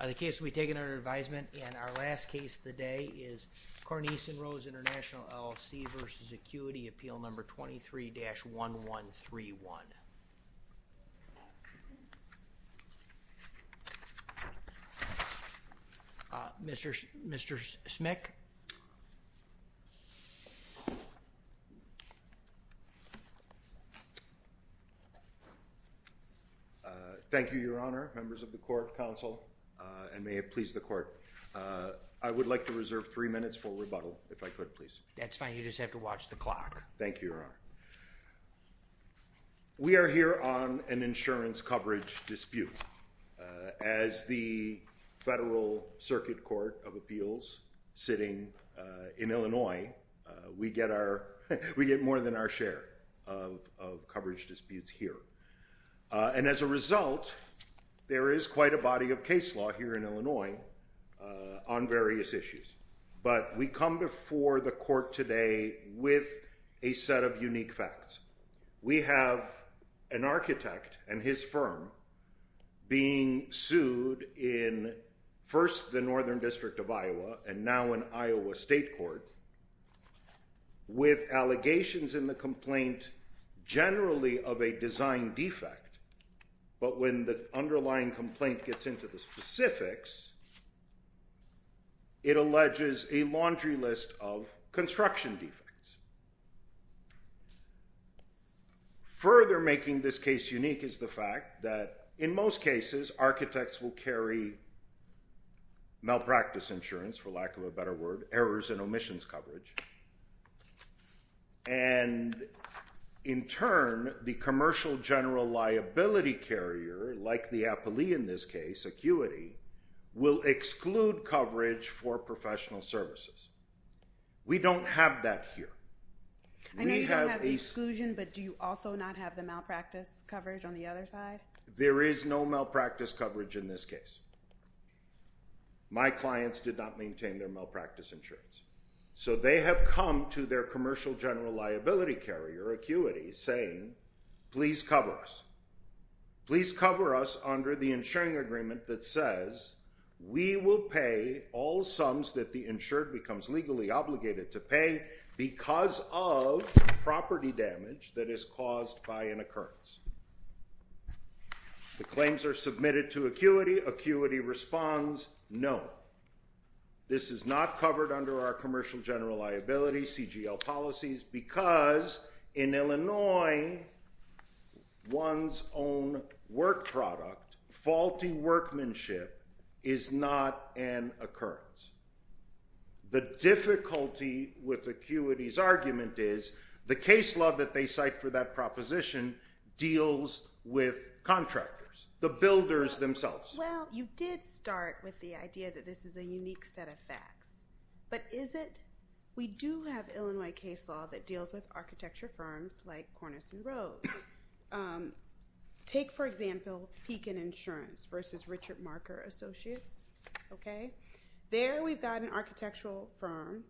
23-1131. Mr. Smick? Thank you, Your Honor, members of the Court, and may it please the Court, I would like to reserve three minutes for rebuttal, if I could, please. That's fine. You just have to watch the clock. Thank you, Your Honor. We are here on an insurance coverage dispute. As the Federal Circuit Court of Appeals, sitting in Illinois, we get more than our share of coverage disputes here. And as a result, there is quite a body of case law here in Illinois on various issues. But we come before the Court today with a set of unique facts. We have an architect and his firm being sued in first the Northern District of Iowa, and now in Iowa State Court, with allegations in the complaint generally of a design defect. But when the underlying complaint gets into the specifics, it alleges a laundry list of construction defects. Further making this case unique is the fact that in most cases, architects will carry malpractice insurance, for lack of a better word, errors and omissions coverage. And in turn, the Commercial General Liability Carrier, like the Applee in this case, Acuity, will exclude coverage for professional services. We don't have that here. I know you don't have the exclusion, but do you also not have the malpractice coverage on the other side? There is no malpractice coverage in this case. My clients did not maintain their malpractice insurance. So they have come to their Commercial General Liability Carrier, Acuity, saying please cover us. Please cover us under the insuring agreement that says we will pay all sums that the insured becomes legally obligated to pay because of property damage that is caused by an occurrence. The claims are submitted to Acuity. Acuity responds, no. This is not covered under our Commercial General Liability CGL policies because in Illinois, one's own work product, faulty workmanship, is not an occurrence. The difficulty with Acuity's argument is the case law that they cite for that proposition deals with contractors, the builders themselves. Well, you did start with the idea that this is a unique set of facts, but is it? We do have Illinois case law that deals with architecture firms like Cornice and Rose. Take, for example, Pekin Insurance versus Richard Marker Associates. There we've got an architectural firm,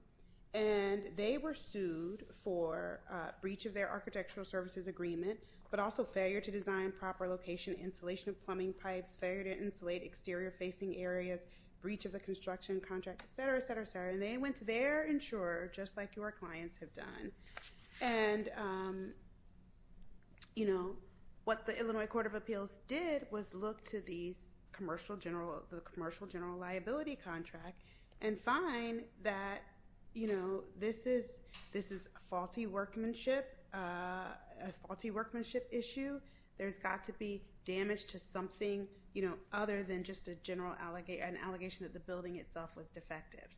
and they were sued for breach of their architectural services agreement, but also failure to design proper location, installation of plumbing pipes, failure to insulate exterior facing areas, breach of the construction contract, etc., etc., etc. They went to their insurer, just like your clients have done. What the Illinois Court of Appeals did was look to the Commercial General Liability Contract and find that this is a faulty workmanship issue. There's got to be damage to something other than just an allegation that the building itself was defective.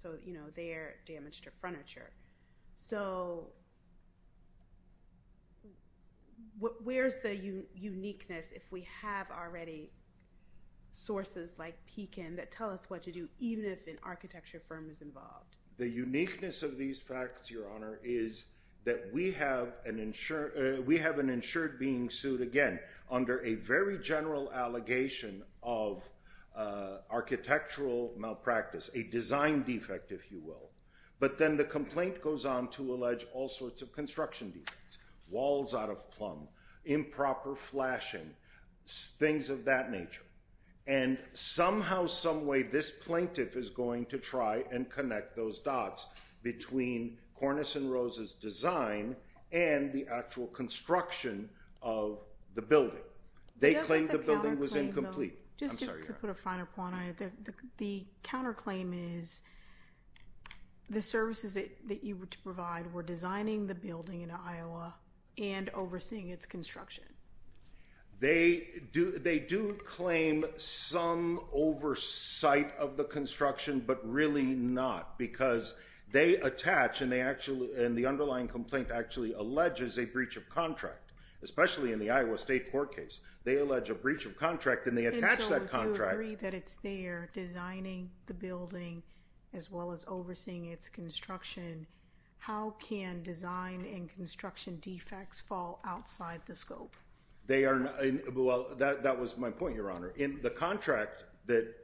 They're damaged to furniture. Where's the uniqueness if we have already sources like Pekin that tell us what to do, even if an architecture firm is involved? The uniqueness of these facts, Your Honor, is that we have an insured being sued again under a very general allegation of architectural malpractice, a design defect, if you will. But then the complaint goes on to allege all sorts of construction defects, walls out of plumb, improper flashing, things of that nature. And somehow, someway, this plaintiff is going to try and connect those dots between Cornice and Rose's design and the actual construction of the building. They claim the building was incomplete. Just to put a finer point on it, the counterclaim is the services that you were to provide were designing the building in Iowa and overseeing its construction. They do claim some oversight of the construction, but really not, because they attach, and the underlying complaint actually alleges a breach of contract, especially in the Iowa State court case. They allege a breach of contract, and they attach that contract. You agree that it's their designing the building, as well as overseeing its construction. How can design and construction defects fall outside the scope? Well, that was my point, Your Honor. In the contract that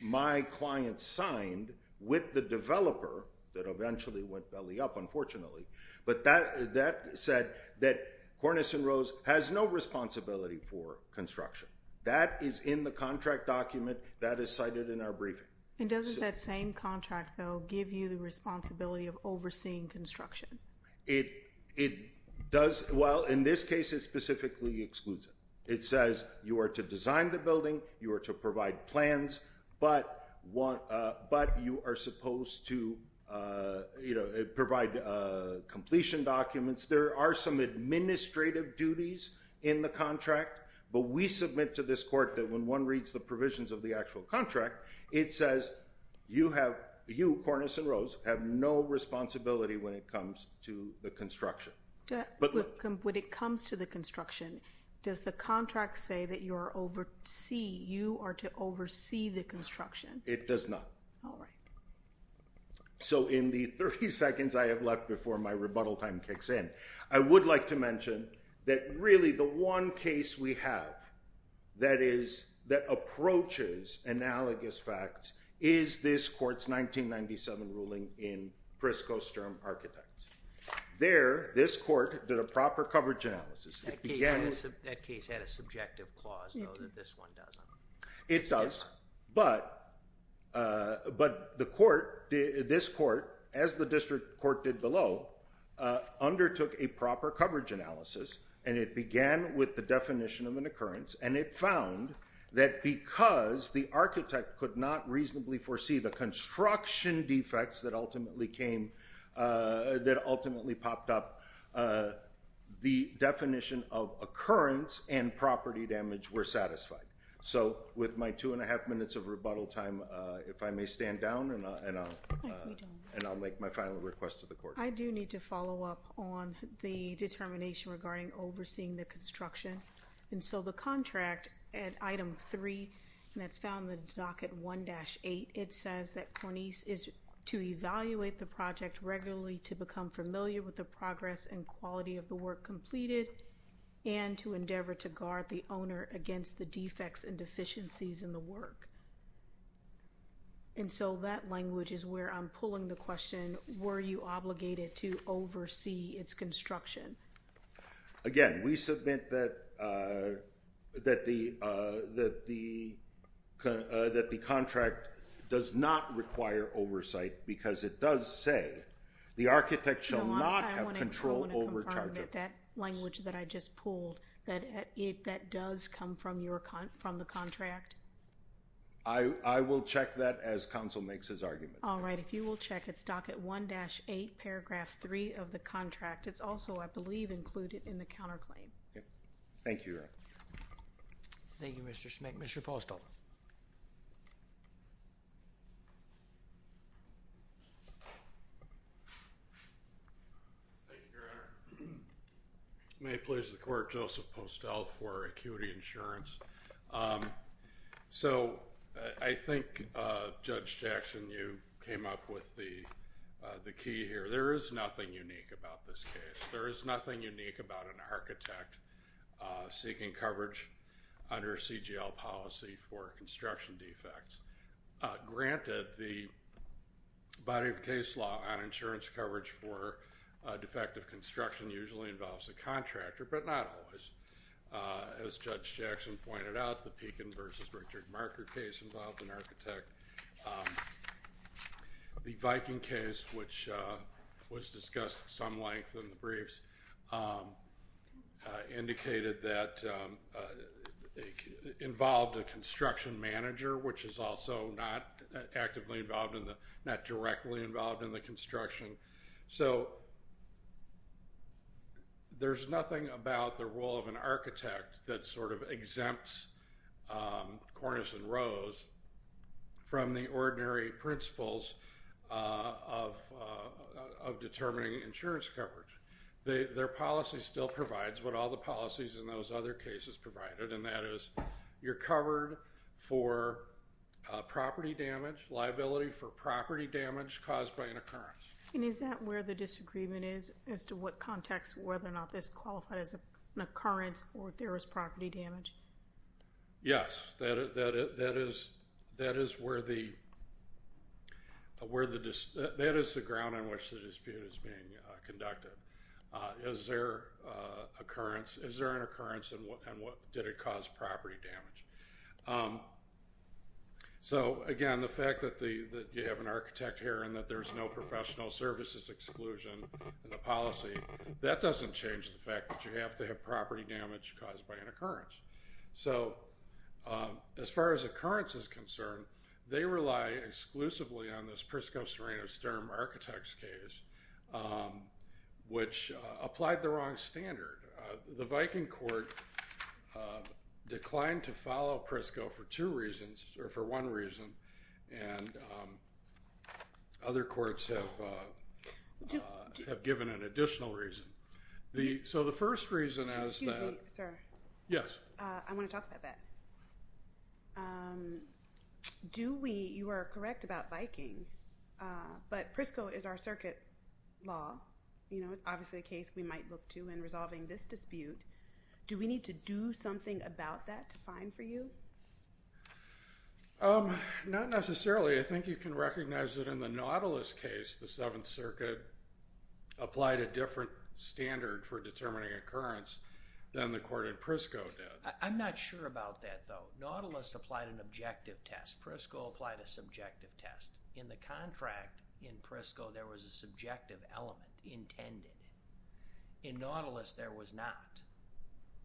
my client signed with the developer that eventually went belly up, unfortunately, but that said that Cornice and Rose has no responsibility for construction. That is in the contract document. That is cited in our briefing. And doesn't that same contract, though, give you the responsibility of overseeing construction? It does. It says you are to design the building, you are to provide plans, but you are supposed to provide completion documents. There are some administrative duties in the contract, but we submit to this court that when one reads the provisions of the actual contract, it says you, Cornice and Rose, have no responsibility when it comes to the construction. When it comes to the construction, does the contract say that you are to oversee the construction? It does not. All right. So in the 30 seconds I have left before my rebuttal time kicks in, I would like to mention that really the one case we have that approaches analogous facts is this court's 1997 ruling in Prisco Sturm Architects. There, this court did a proper coverage analysis. That case had a subjective clause, though, that this one doesn't. It does, but this court, as the district court did below, undertook a proper coverage analysis, and it began with the definition of an occurrence, and it found that because the architect could not reasonably foresee the construction defects that ultimately popped up, the definition of occurrence and property damage were satisfied. So with my two and a half minutes of rebuttal time, if I may stand down, and I'll make my final request to the court. I do need to follow up on the determination regarding overseeing the construction. And so the contract at item three, and that's found in the docket 1-8, it says that Cornice is to evaluate the project regularly to become familiar with the progress and quality of the work completed, and to endeavor to guard the owner against the defects and deficiencies in the work. And so that language is where I'm pulling the question, were you obligated to oversee its construction? Again, we submit that the contract does not require oversight because it does say the architect shall not have control over charges. No, I want to confirm that that language that I just pulled, that that does come from the contract? I will check that as counsel makes his argument. All right, if you will check it's docket 1-8 paragraph three of the contract. It's also, I believe, included in the counterclaim. Thank you. Thank you, Mr. Schmick. Mr. Postol. Thank you, Your Honor. May it please the court, Joseph Postol for Acuity Insurance. So I think, Judge Jackson, you came up with the key here. There is nothing unique about this case. There is nothing unique about an architect seeking coverage under a CGL policy for construction defects. Granted, the body of case law on insurance coverage for defective construction usually involves a contractor, but not always. As Judge Jackson pointed out, the Pekin versus Richard Marker case involved an architect. The Viking case, which was discussed some length in the briefs, indicated that it involved a construction manager, which is also not actively involved in the, not directly involved in the construction. So there's nothing about the role of an architect that sort of exempts Cornice and Rose from the ordinary principles of determining insurance coverage. Their policy still provides what all the policies in those other cases provided, and that is you're covered for property damage, liability for property damage caused by an occurrence. And is that where the disagreement is as to what context, whether or not this qualified as an occurrence or if there was property damage? Yes, that is where the, that is the ground on which the dispute is being conducted. Is there an occurrence and did it cause property damage? So, again, the fact that you have an architect here and that there's no professional services exclusion in the policy, that doesn't change the fact that you have to have property damage caused by an occurrence. So, as far as occurrence is concerned, they rely exclusively on this Prisco-Serena-Stern Architects case, which applied the wrong standard. The Viking Court declined to follow Prisco for two reasons, or for one reason, and other courts have given an additional reason. So the first reason is that- Excuse me, sir. Yes. I want to talk about that. Do we, you are correct about Viking, but Prisco is our circuit law. You know, it's obviously a case we might look to in resolving this dispute. Do we need to do something about that to find for you? Not necessarily. I think you can recognize that in the Nautilus case, the Seventh Circuit applied a different standard for determining occurrence than the court in Prisco did. I'm not sure about that, though. Nautilus applied an objective test. Prisco applied a subjective test. In the contract in Prisco, there was a subjective element intended. In Nautilus, there was not,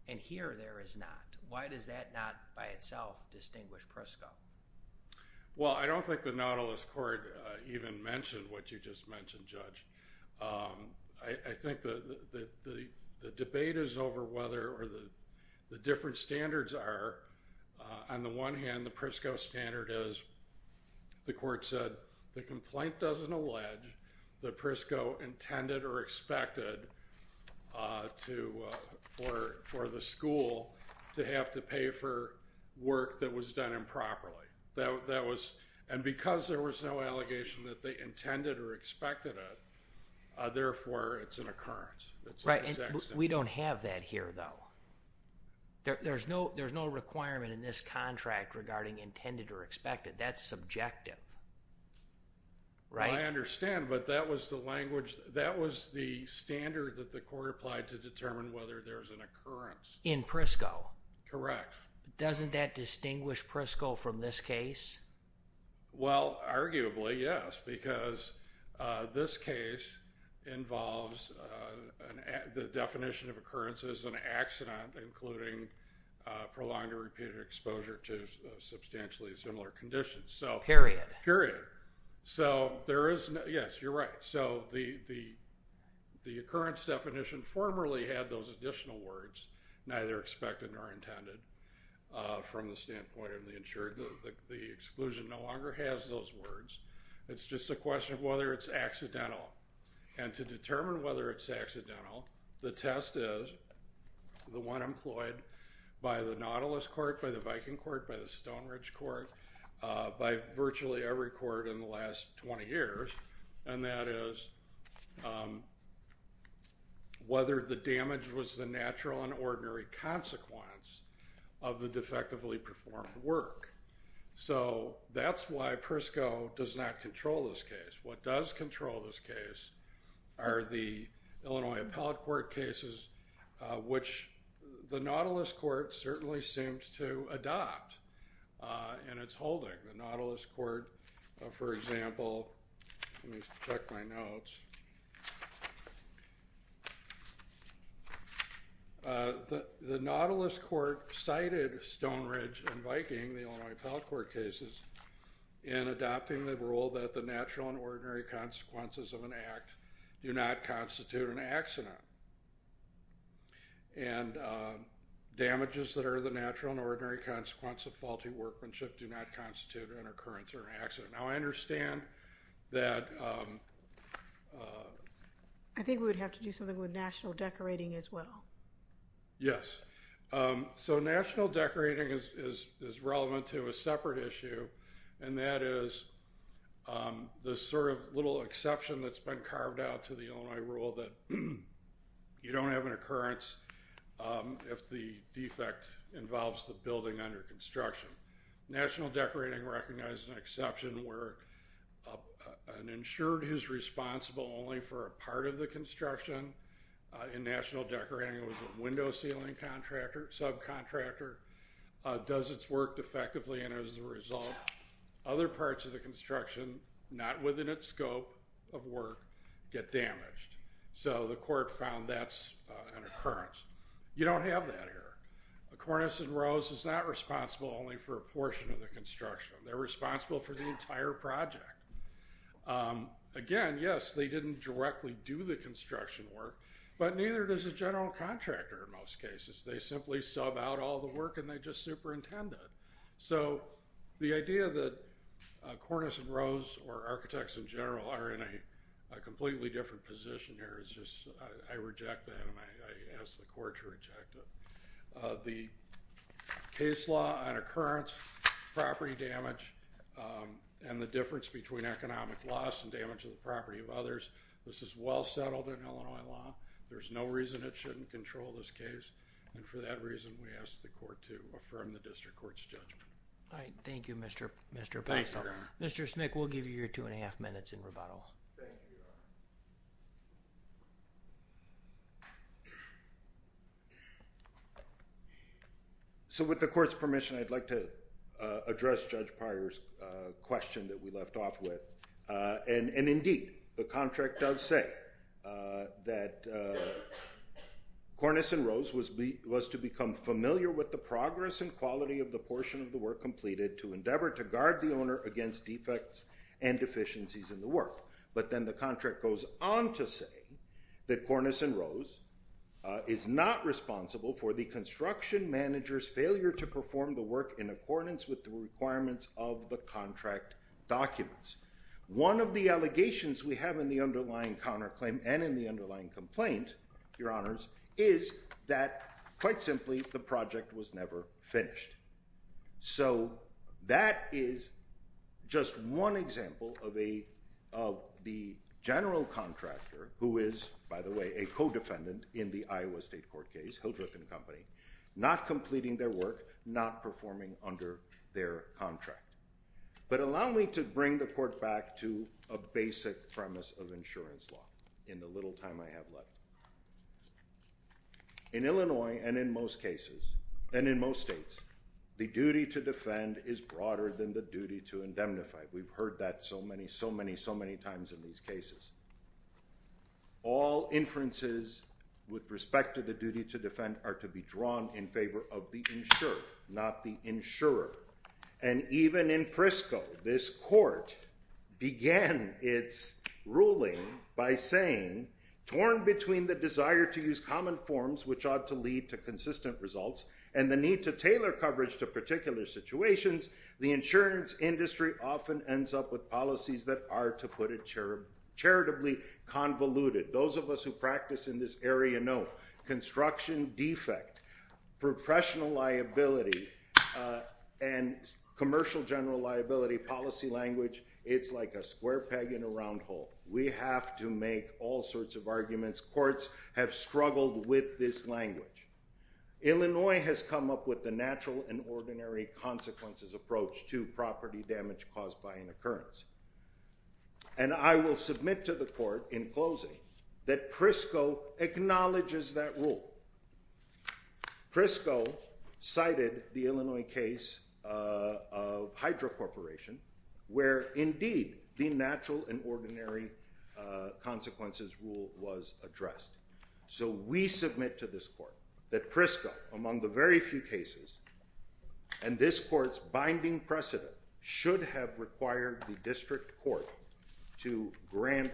and here there is not. Why does that not by itself distinguish Prisco? Well, I don't think the Nautilus court even mentioned what you just mentioned, Judge. I think the debate is over whether the different standards are, on the one hand, the Prisco standard is, the court said, the complaint doesn't allege that Prisco intended or expected for the school to have to pay for work that was done improperly. And because there was no allegation that they intended or expected it, therefore it's an occurrence. We don't have that here, though. There's no requirement in this contract regarding intended or expected. That's subjective. I understand, but that was the language, that was the standard that the court applied to determine whether there's an occurrence. In Prisco. Correct. Doesn't that distinguish Prisco from this case? Well, arguably, yes, because this case involves the definition of occurrence as an accident, including prolonged or repeated exposure to substantially similar conditions. Period. Period. Yes, you're right. So the occurrence definition formerly had those additional words, neither expected nor intended, from the standpoint of the insured. The exclusion no longer has those words. It's just a question of whether it's accidental. And to determine whether it's accidental, the test is the one employed by the Nautilus Court, by the Viking Court, by the Stone Ridge Court, by virtually every court in the last 20 years. And that is whether the damage was the natural and ordinary consequence of the defectively performed work. So that's why Prisco does not control this case. What does control this case are the Illinois Appellate Court cases, which the Nautilus Court certainly seemed to adopt in its holding. The Nautilus Court, for example, let me check my notes. The Nautilus Court cited Stone Ridge and Viking, the Illinois Appellate Court cases, in adopting the rule that the natural and ordinary consequences of an act do not constitute an accident. And damages that are the natural and ordinary consequence of faulty workmanship do not constitute an occurrence or an accident. Now I understand that... I think we would have to do something with national decorating as well. Yes. So national decorating is relevant to a separate issue, and that is the sort of little exception that's been carved out to the Illinois rule that you don't have an occurrence if the defect involves the building under construction. National decorating recognizes an exception where an insured is responsible only for a part of the construction. In national decorating, it was a window ceiling contractor, subcontractor, does its work defectively, and as a result, other parts of the construction, not within its scope of work, get damaged. So the court found that's an occurrence. You don't have that here. Cornice and Rose is not responsible only for a portion of the construction. They're responsible for the entire project. Again, yes, they didn't directly do the construction work, but neither does a general contractor in most cases. They simply sub out all the work and they just superintend it. So the idea that Cornice and Rose or architects in general are in a completely different position here is just... I reject that and I ask the court to reject it. The case law on occurrence, property damage, and the difference between economic loss and damage to the property of others, this is well settled in Illinois law. There's no reason it shouldn't control this case. And for that reason, we ask the court to affirm the district court's judgment. All right. Thank you, Mr. Postol. Mr. Smick, we'll give you your two and a half minutes in rebuttal. Thank you. So with the court's permission, I'd like to address Judge Pires' question that we left off with. And indeed, the contract does say that Cornice and Rose was to become familiar with the progress and quality of the portion of the work completed to endeavor to guard the owner against defects and deficiencies in the work. But then the contract goes on to say that Cornice and Rose is not responsible for the construction manager's failure to perform the work in accordance with the requirements of the contract documents. One of the allegations we have in the underlying counterclaim and in the underlying complaint, Your Honors, is that, quite simply, the project was never finished. So that is just one example of the general contractor who is, by the way, a co-defendant in the Iowa State Court case, Hildreth and Company, not completing their work, not performing under their contract. But allow me to bring the court back to a basic premise of insurance law in the little time I have left. In Illinois, and in most cases, and in most states, the duty to defend is broader than the duty to indemnify. We've heard that so many, so many, so many times in these cases. All inferences with respect to the duty to defend are to be drawn in favor of the insurer, not the insurer. And even in Frisco, this court began its ruling by saying, torn between the desire to use common forms, which ought to lead to consistent results, and the need to tailor coverage to particular situations, the insurance industry often ends up with policies that are, to put it charitably, convoluted. Those of us who practice in this area know, construction defect, professional liability, and commercial general liability policy language, it's like a square peg in a round hole. We have to make all sorts of arguments. Courts have struggled with this language. Illinois has come up with the natural and ordinary consequences approach to property damage caused by an occurrence. And I will submit to the court, in closing, that Frisco acknowledges that rule. Frisco cited the Illinois case of Hydro Corporation, where, indeed, the natural and ordinary consequences rule was addressed. So we submit to this court that Frisco, among the very few cases, and this court's binding precedent, should have required the district court to grant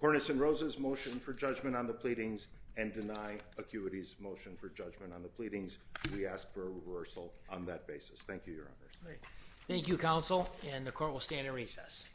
Cornice and Rose's motion for judgment on the pleadings and deny Acuity's motion for judgment on the pleadings. We ask for a reversal on that basis. Thank you, Your Honor. Thank you, Counsel, and the court will stand in recess.